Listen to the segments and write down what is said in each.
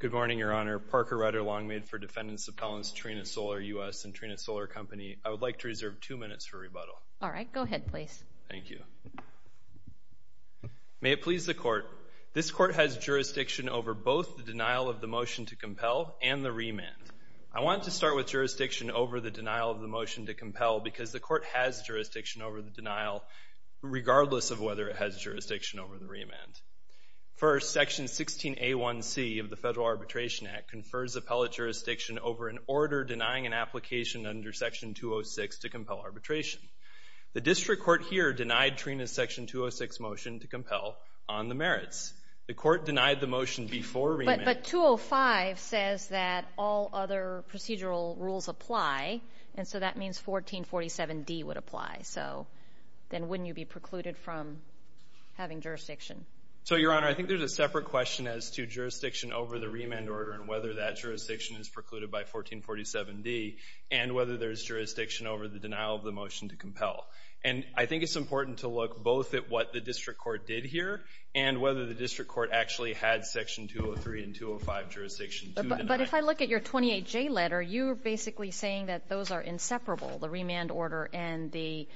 Good morning, Your Honor. Parker Ryder Longmaid for Defendants Appellants Trina Solar U.S. and Trina Solar Company. I would like to reserve two minutes for rebuttal. All right. Go ahead, please. Thank you. May it please the Court. This Court has jurisdiction over both the denial of the motion to compel and the remand. I want to start with jurisdiction over the denial of the motion to compel because the Court has jurisdiction over the denial regardless of whether it has jurisdiction over the remand. First, Section 16A1C of the Federal Arbitration Act confers appellate jurisdiction over an order denying an application under Section 206 to compel arbitration. The District Court here denied Trina's Section 206 motion to compel on the merits. The Court denied the motion before remand. But 205 says that all other procedural rules apply, and so that means 1447D would apply. So then wouldn't you be precluded from having jurisdiction? So Your Honor, I think there's a separate question as to jurisdiction over the remand order and whether that jurisdiction is precluded by 1447D and whether there's jurisdiction over the denial of the motion to compel. And I think it's important to look both at what the District Court did here and whether the District Court actually had Section 203 and 205 jurisdiction to deny. But if I look at your 28J letter, you're basically saying that those are inseparable, the remand order and the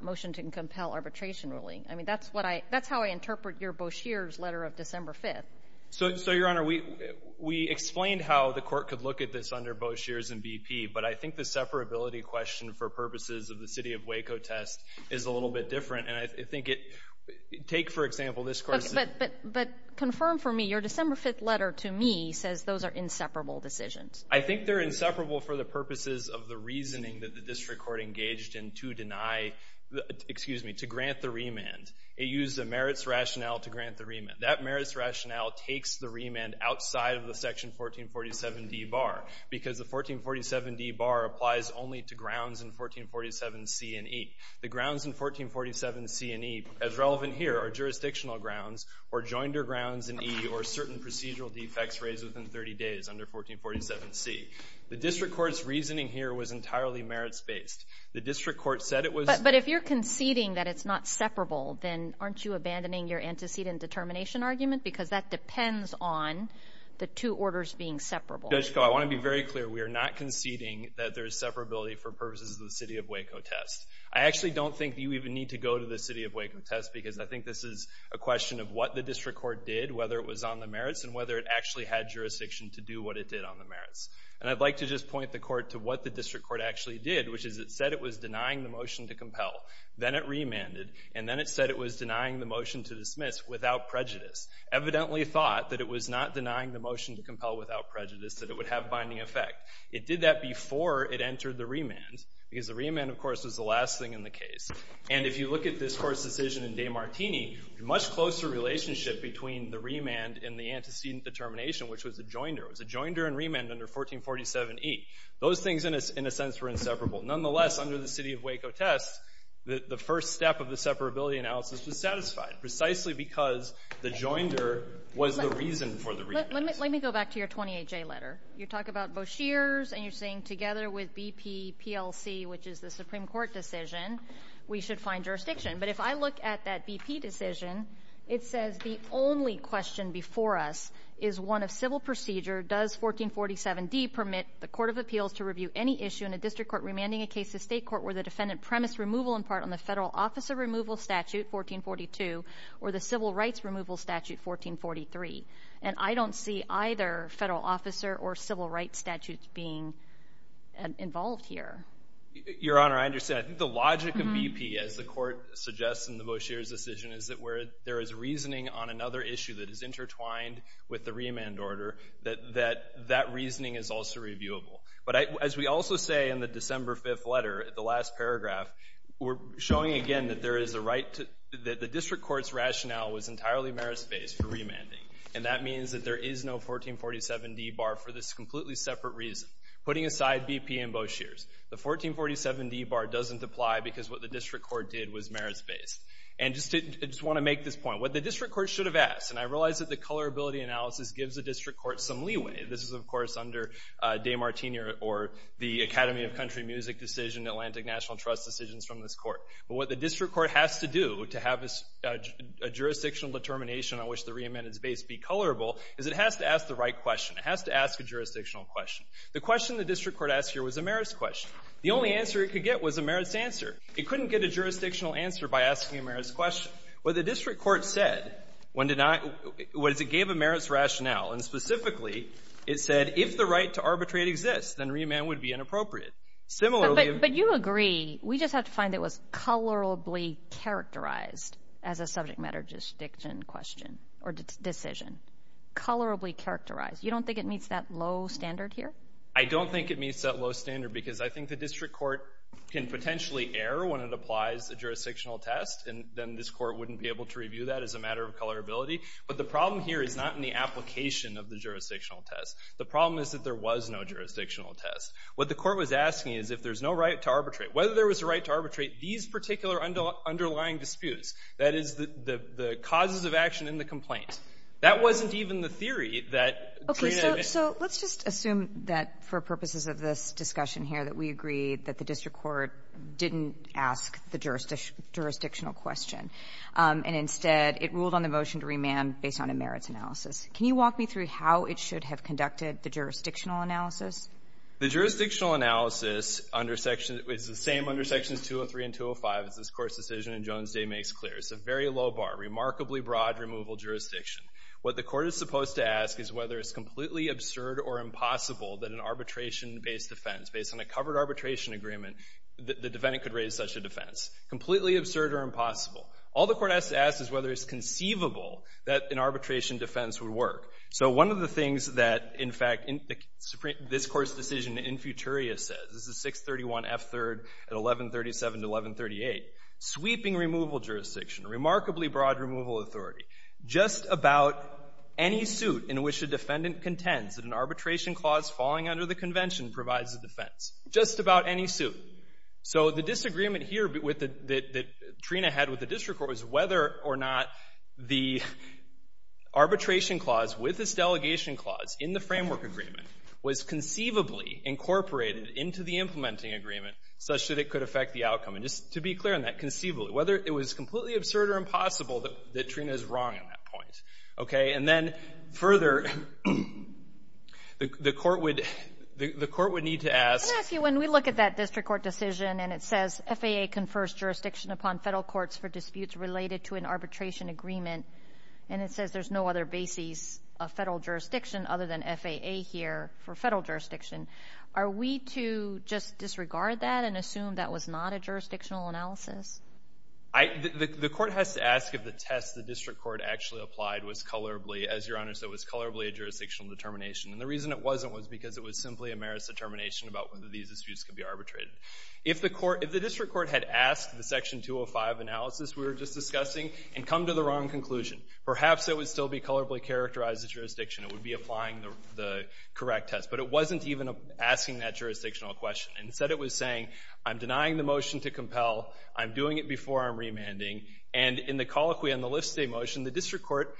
motion to compel arbitration ruling. I mean, that's what I — that's how I interpret your Boshears letter of December 5th. So, Your Honor, we explained how the Court could look at this under Boshears and BP, but I think the separability question for purposes of the City of Waco test is a little bit different. And I think it — take, for example, this court's — But confirm for me. Your December 5th letter to me says those are inseparable decisions. I think they're inseparable for the purposes of the reasoning that the District Court engaged in to deny — excuse me, to grant the remand. It used a merits rationale to grant the remand. That merits rationale takes the remand outside of the Section 1447D bar because the 1447D bar applies only to grounds in 1447C and E. The grounds in 1447C and E, as relevant here, are jurisdictional grounds or joinder grounds in E or certain procedural defects raised within 30 days under 1447C. The District Court's reasoning here was entirely merits-based. The District Court said it was — But if you're conceding that it's not separable, then aren't you abandoning your antecedent determination argument? Because that depends on the two orders being separable. Judge Koh, I want to be very clear. We are not conceding that there is separability for purposes of the City of Waco test. I actually don't think you even need to go to the City of Waco test because I think this is a question of what the District Court did, whether it was on the merits, and whether it actually had jurisdiction to do what it did on the merits. And I'd like to just point the Court to what the District Court actually did, which is it said it was denying the motion to compel, then it remanded, and then it said it was denying the motion to dismiss without prejudice, evidently thought that it was not denying the motion to compel without prejudice, that it would have binding effect. It did that before it entered the remand because the remand, of course, was the last thing in the case. And if you look at this Court's decision in De Martini, a much closer relationship between the remand and the antecedent determination, which was a joinder, it was a joinder and remand under 1447E. Those things, in a sense, were inseparable. Nonetheless, under the City of Waco test, the first step of the separability analysis was satisfied, precisely because the joinder was the reason for the remand. Let me go back to your 28J letter. You talk about voshears, and you're saying together with BP-PLC, which is the Supreme Court decision, we should find jurisdiction. But if I look at that BP decision, it says the only question before us is one of civil procedure. Does 1447D permit the Court of Appeals to review any issue in a district court remanding a case to state court where the defendant premised removal in part on the Federal Officer Removal Statute, 1442, or the Civil Rights Removal Statute, 1443? And I don't see either Federal Officer or Civil Rights statutes being involved here. Your Honor, I understand. I think the logic of BP, as the Court suggests in the voshears decision, is that where there is reasoning on another issue that is intertwined with the remand order, that that reasoning is also reviewable. But as we also say in the December 5th letter, the last paragraph, we're showing again that there is a right to — that the district court's rationale was entirely merit-based for remanding. And that means that there is no 1447D bar for this completely separate reason, putting aside BP and voshears. The 1447D bar doesn't apply because what the district court did was merit-based. And just to — I just want to make this point. What the district court should have asked, and I realize that the colorability analysis gives the district court some leeway — this is, of course, under De Martini or the Academy of Country Music decision, Atlantic National Trust decisions from this court — but what the district court has to do to have a jurisdictional determination on which the reamend is based be colorable is it has to ask the right question. It has to ask a jurisdictional question. The question the district court asked here was a merits question. The only answer it could get was a merits answer. It couldn't get a jurisdictional answer by asking a merits question. What the district court said when denied was it gave a merits rationale. And specifically, it said if the right to arbitrate exists, then reamend would be inappropriate. Similarly — Kagan. But you agree. We just have to find it was colorably characterized as a subject matter jurisdiction question or decision. Colorably characterized. You don't think it meets that low standard here? I don't think it meets that low standard because I think the district court can potentially err when it applies a jurisdictional test, and then this court wouldn't be able to review that as a matter of colorability. But the problem here is not in the application of the jurisdictional test. The problem is that there was no jurisdictional test. What the court was asking is if there's no right to arbitrate, whether there was a right to arbitrate these particular underlying disputes — that is, the causes of action in the complaint That wasn't even the theory that — Okay. So let's just assume that for purposes of this discussion here, that we agree that the district court didn't ask the jurisdictional question, and instead, it ruled on the motion to remand based on a merits analysis. Can you walk me through how it should have conducted the jurisdictional analysis? The jurisdictional analysis under Section — it's the same under Sections 203 and 205 as this Court's decision in Jones Day makes clear. It's a very low bar, remarkably broad removal jurisdiction. What the court is supposed to ask is whether it's completely absurd or impossible that an arbitration-based defense, based on a covered arbitration agreement, the defendant could raise such a defense. Completely absurd or impossible. All the court has to ask is whether it's conceivable that an arbitration defense would work. So one of the things that, in fact, this Court's decision in Futuria says — this is 631F3 at 1137 to 1138 — sweeping removal jurisdiction, remarkably broad removal authority, just about any suit in which a defendant contends that an arbitration clause falling under the Convention provides a defense. Just about any suit. So the disagreement here that Trina had with the district court was whether or not the arbitration clause with this delegation clause in the framework agreement was conceivably incorporated into the implementing agreement such that it could affect the outcome. And just to be clear on that, conceivably. Whether it was completely absurd or impossible, that Trina is wrong on that point, okay? And then, further, the court would — the court would need to ask — I'm going to ask you, when we look at that district court decision and it says FAA confers jurisdiction upon Federal courts for disputes related to an arbitration agreement, and it says there's no other basis of Federal jurisdiction other than FAA here for Federal jurisdiction, are we to just disregard that and assume that was not a jurisdictional analysis? I — the court has to ask if the test the district court actually applied was colorably — as Your Honor said, it was colorably a jurisdictional determination. And the reason it wasn't was because it was simply a merits determination about whether these disputes could be arbitrated. If the court — if the district court had asked the Section 205 analysis we were just discussing and come to the wrong conclusion, perhaps it would still be colorably characterized as jurisdiction. It would be applying the correct test. But it wasn't even asking that jurisdictional question. Instead, it was saying, I'm denying the motion to compel. I'm doing it before I'm remanding. And in the colloquy on the Lift State motion, the district court,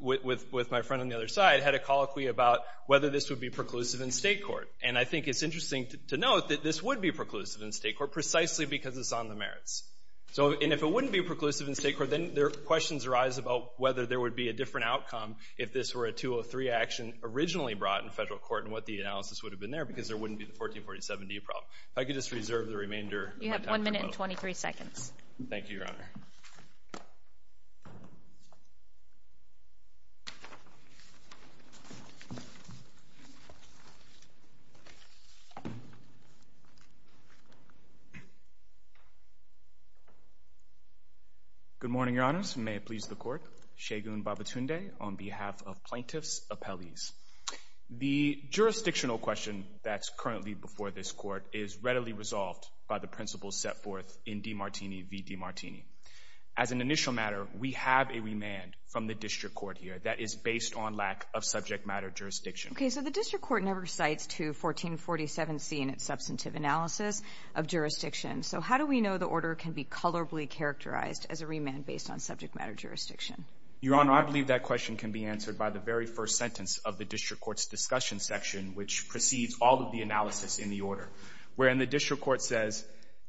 with my friend on the other side, had a colloquy about whether this would be preclusive in state court. And I think it's interesting to note that this would be preclusive in state court precisely because it's on the merits. So — and if it wouldn't be preclusive in state court, then questions arise about whether there would be a different outcome if this were a 203 action originally brought in Federal Court and what the analysis would have been there because there wouldn't be the 1447D problem. If I could just reserve the remainder of my time to vote. You have one minute and 23 seconds. Thank you, Your Honor. Good morning, Your Honors, and may it please the Court. Shegun Babatunde on behalf of Plaintiffs' Appellees. The jurisdictional question that's currently before this Court is readily resolved by the principles set forth in D. Martini v. D. Martini. As an initial matter, we have a remand from the district court here that is based on lack of subject matter jurisdiction. Okay. So the district court never cites to 1447C in its substantive analysis of jurisdiction. So how do we know the order can be colorably characterized as a remand based on subject matter jurisdiction? Your Honor, I believe that question can be answered by the very first sentence of the district court's discussion section, which precedes all of the analysis in the order, wherein the district court says,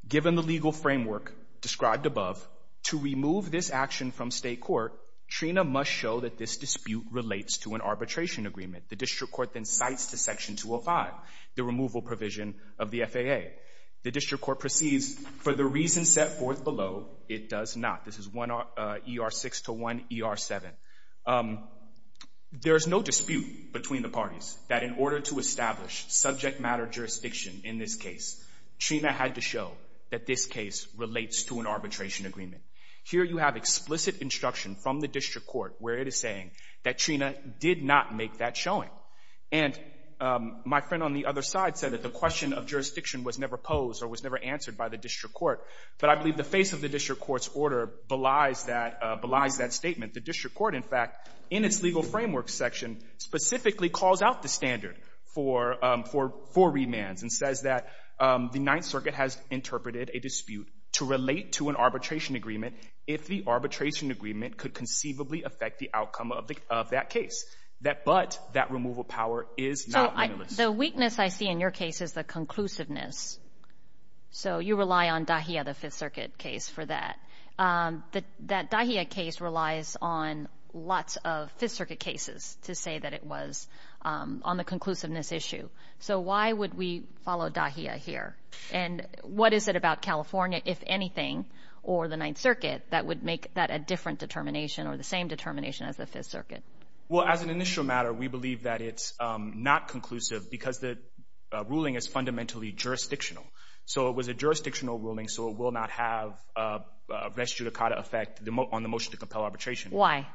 given the legal framework described above, to remove this action from state court, Trina must show that this dispute relates to an arbitration agreement. The district court then cites to Section 205 the removal provision of the FAA. The district court proceeds, for the reason set forth below, it does not. This is ER 6-1, ER 7. There's no dispute between the parties that in order to establish subject matter jurisdiction in this case, Trina had to show that this case relates to an arbitration agreement. Here you have explicit instruction from the district court where it is saying that Trina did not make that showing. And my friend on the other side said that the question of jurisdiction was never posed or was never answered by the district court, but I believe the face of the district court's belies that statement. The district court, in fact, in its legal framework section, specifically calls out the standard for remands and says that the Ninth Circuit has interpreted a dispute to relate to an arbitration agreement if the arbitration agreement could conceivably affect the outcome of that case. But that removal power is not limitless. So the weakness I see in your case is the conclusiveness. So you rely on Dahia, the Fifth Circuit case, for that. That Dahia case relies on lots of Fifth Circuit cases to say that it was on the conclusiveness issue. So why would we follow Dahia here? And what is it about California, if anything, or the Ninth Circuit that would make that a different determination or the same determination as the Fifth Circuit? Well, as an initial matter, we believe that it's not conclusive because the ruling is jurisdictional. So it was a jurisdictional ruling, so it will not have a res judicata effect on the motion to compel arbitration. Why?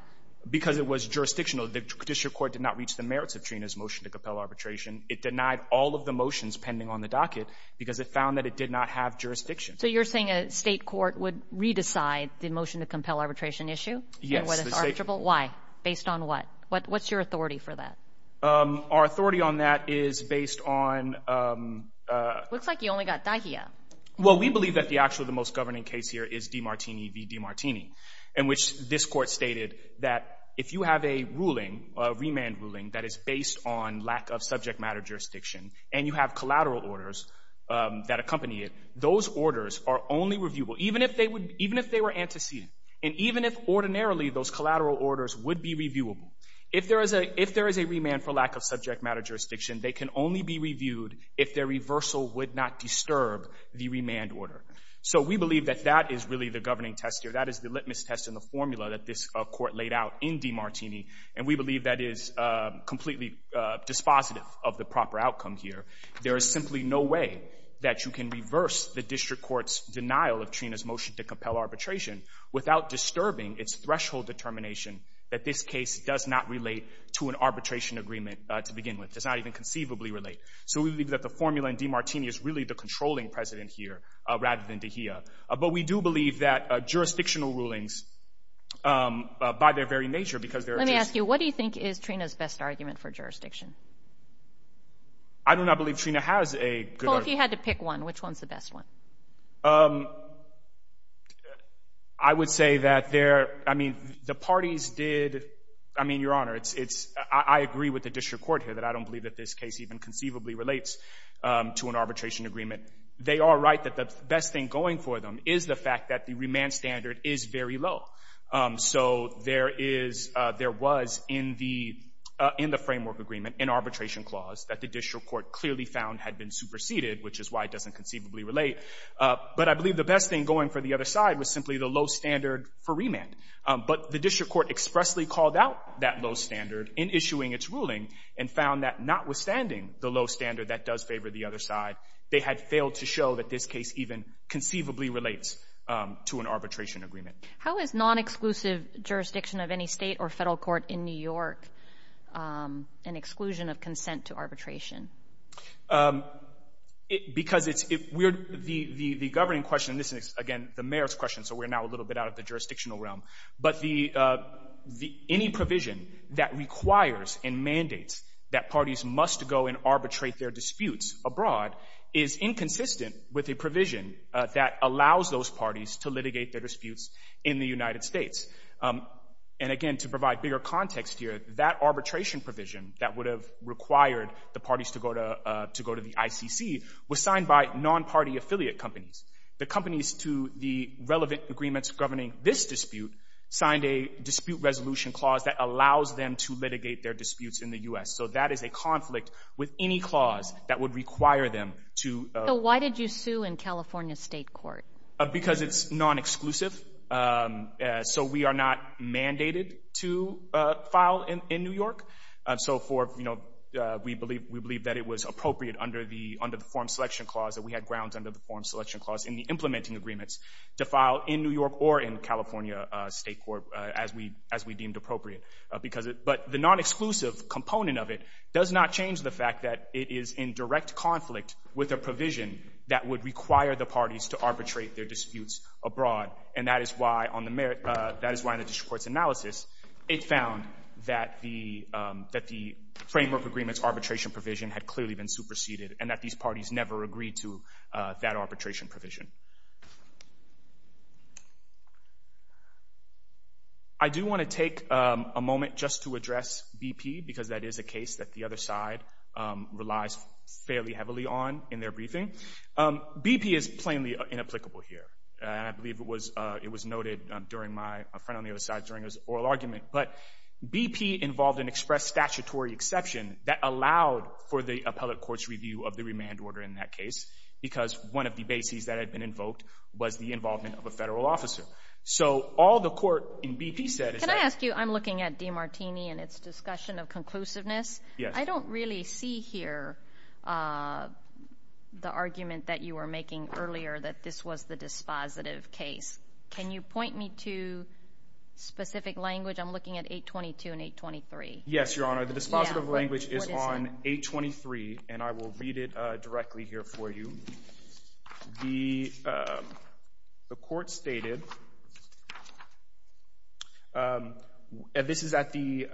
Because it was jurisdictional. The district court did not reach the merits of Trina's motion to compel arbitration. It denied all of the motions pending on the docket because it found that it did not have jurisdiction. So you're saying a state court would re-decide the motion to compel arbitration issue? Yes. Why? Based on what? What's your authority for that? Our authority on that is based on... Looks like you only got Dahia. Well, we believe that actually the most governing case here is DiMartini v. DiMartini, in which this court stated that if you have a ruling, a remand ruling, that is based on lack of subject matter jurisdiction, and you have collateral orders that accompany it, those orders are only reviewable, even if they were antecedent, and even if ordinarily those collateral orders would be reviewable. If there is a remand for lack of subject matter jurisdiction, they can only be reviewed if their reversal would not disturb the remand order. So we believe that that is really the governing test here. That is the litmus test in the formula that this court laid out in DiMartini, and we believe that is completely dispositive of the proper outcome here. There is simply no way that you can reverse the district court's denial of Trina's motion to compel arbitration without disturbing its threshold determination that this case does not relate to an arbitration agreement to begin with, does not even conceivably relate. So we believe that the formula in DiMartini is really the controlling precedent here, rather than Dahia. But we do believe that jurisdictional rulings, by their very nature, because they're just... Let me ask you, what do you think is Trina's best argument for jurisdiction? I do not believe Trina has a good argument. If you had to pick one, which one's the best one? I would say that the parties did... I mean, Your Honor, I agree with the district court here that I don't believe that this case even conceivably relates to an arbitration agreement. They are right that the best thing going for them is the fact that the remand standard is very low. So there was, in the framework agreement, an arbitration clause that the district court clearly found had been superseded, which is why it doesn't conceivably relate. But I believe the best thing going for the other side was simply the low standard for remand. But the district court expressly called out that low standard in issuing its ruling, and found that notwithstanding the low standard that does favor the other side, they had failed to show that this case even conceivably relates to an arbitration agreement. How is nonexclusive jurisdiction of any state or federal court in New York an exclusion of consent to arbitration? Because it's... We're... The governing question, and this is, again, the mayor's question, so we're now a little bit out of the jurisdictional realm, but any provision that requires and mandates that parties must go and arbitrate their disputes abroad is inconsistent with a provision that allows those parties to litigate their disputes in the United States. And, again, to provide bigger context here, that arbitration provision that would have required the parties to go to the ICC was signed by non-party affiliate companies. The companies to the relevant agreements governing this dispute signed a dispute resolution clause that allows them to litigate their disputes in the U.S. So that is a conflict with any clause that would require them to... Why did you sue in California State Court? Because it's nonexclusive. So we are not mandated to file in New York. So for, you know, we believe that it was appropriate under the form selection clause that we had grounds under the form selection clause in the implementing agreements to file in New York or in California State Court as we deemed appropriate. But the nonexclusive component of it does not change the fact that it is in direct conflict with a provision that would require the parties to arbitrate their disputes abroad. And that is why on the merit... That is why in the district court's analysis, it found that the framework agreement's arbitration provision had clearly been superseded and that these parties never agreed to that arbitration provision. I do want to take a moment just to address BP because that is a case that the other side relies fairly heavily on in their briefing. BP is plainly inapplicable here. I believe it was noted during my... A friend on the other side during his oral argument. But BP involved an express statutory exception that allowed for the appellate court's review of the remand order in that case because one of the bases that had been invoked was the involvement of a federal officer. So all the court in BP said is that... Can I ask you? I'm looking at DiMartini and its discussion of conclusiveness. Yes. I don't really see here the argument that you were making earlier that this was the dispositive case. Can you point me to specific language? I'm looking at 822 and 823. Yes, Your Honor. The dispositive language is on 823 and I will read it directly here for you. The court stated... This is at the...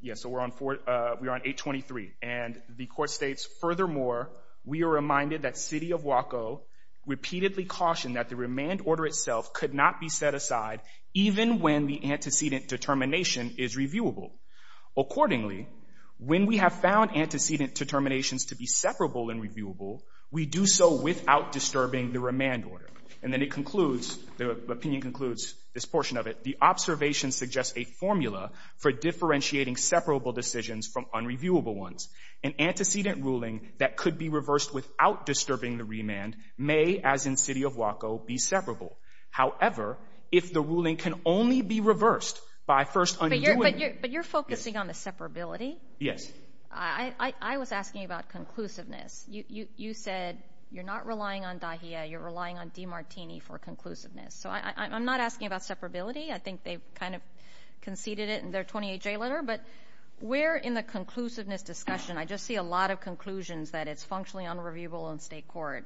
Yes, so we're on 823. And the court states, furthermore, we are reminded that City of Waco repeatedly cautioned that the remand order itself could not be set aside even when the antecedent determination is reviewable. Accordingly, when we have found antecedent determinations to be separable and reviewable, we do so without disturbing the remand order. And then it concludes, the opinion concludes this portion of it, the observation suggests a formula for differentiating separable decisions from unreviewable ones. An antecedent ruling that could be reversed without disturbing the remand may, as in City of Waco, be separable. However, if the ruling can only be reversed by first undoing... But you're focusing on the separability? Yes. I was asking about conclusiveness. You said you're not relying on Dahia, you're relying on DiMartini for conclusiveness. So I'm not asking about separability. I think they've kind of conceded it in their 28-J letter. But we're in the conclusiveness discussion. I just see a lot of conclusions that it's functionally unreviewable in state court.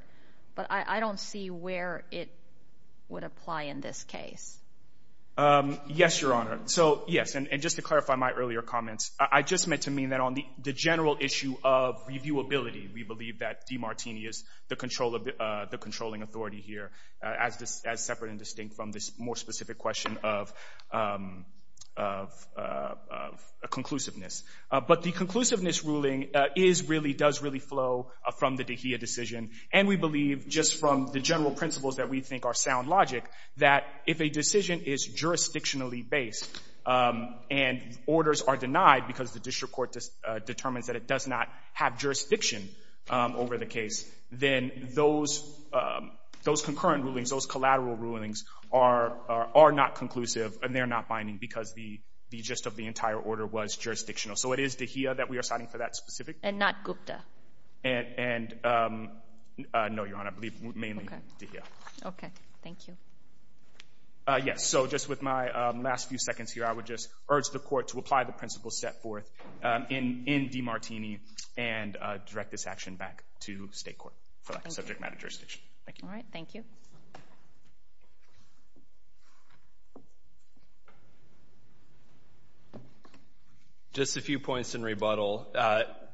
But I don't see where it would apply in this case. Yes, Your Honor. So yes, and just to clarify my earlier comments, I just meant to mean that on the general issue of reviewability, we believe that DiMartini is the controlling authority here, as separate and distinct from this more specific question of conclusiveness. But the conclusiveness ruling does really flow from the Dahia decision. And we believe, just from the general principles that we think are sound logic, that if a decision is jurisdictionally based and orders are denied because the district court determines that it does not have jurisdiction over the case, then those concurrent rulings, those collateral rulings are not conclusive and they're not binding because the gist of the entire order was jurisdictional. So it is Dahia that we are citing for that specific. And not Gupta. And no, Your Honor, I believe mainly Dahia. Okay. Thank you. Yes. And with that, I will step forth in DiMartini and direct this action back to state court for that subject matter jurisdiction. Thank you. All right. Thank you. Just a few points in rebuttal.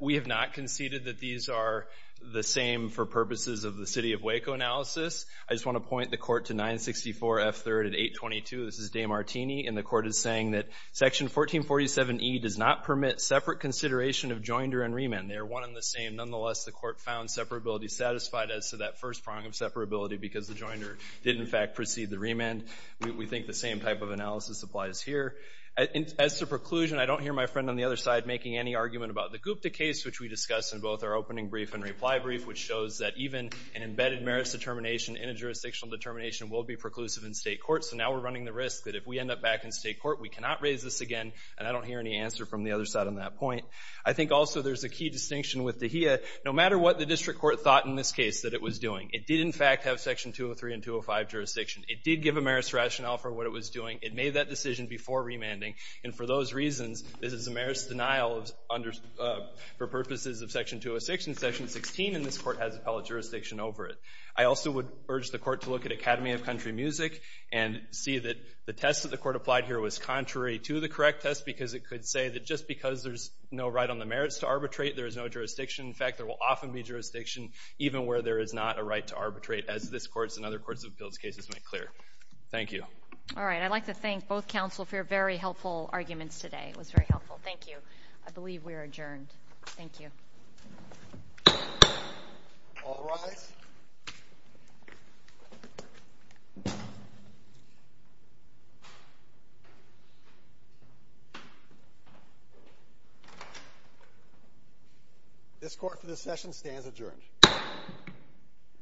We have not conceded that these are the same for purposes of the city of Waco analysis. I just want to point the court to 964 F3 at 822. This is DiMartini. And the court is saying that Section 1447E does not permit separate consideration of joinder and remand. They are one and the same. Nonetheless, the court found separability satisfied as to that first prong of separability because the joinder did, in fact, precede the remand. We think the same type of analysis applies here. As to preclusion, I don't hear my friend on the other side making any argument about the Gupta case, which we discussed in both our opening brief and reply brief, which shows that even an embedded merits determination in a jurisdictional determination will be preclusive in state court. So now we're running the risk that if we end up back in state court, we cannot raise this again. And I don't hear any answer from the other side on that point. I think also there's a key distinction with the DAHIA. No matter what the district court thought in this case that it was doing, it did, in fact, have Section 203 and 205 jurisdiction. It did give a merits rationale for what it was doing. It made that decision before remanding. And for those reasons, this is a merits denial for purposes of Section 206 and Section 16. And this court has appellate jurisdiction over it. I also would urge the court to look at Academy of Country Music and see that the test that the court applied here was contrary to the correct test because it could say that just because there's no right on the merits to arbitrate, there is no jurisdiction. In fact, there will often be jurisdiction even where there is not a right to arbitrate, as this court and other courts of appeals cases make clear. Thank you. All right. I'd like to thank both counsel for your very helpful arguments today. It was very helpful. Thank you. I believe we are adjourned. Thank you. All rise. This court for this session stands adjourned.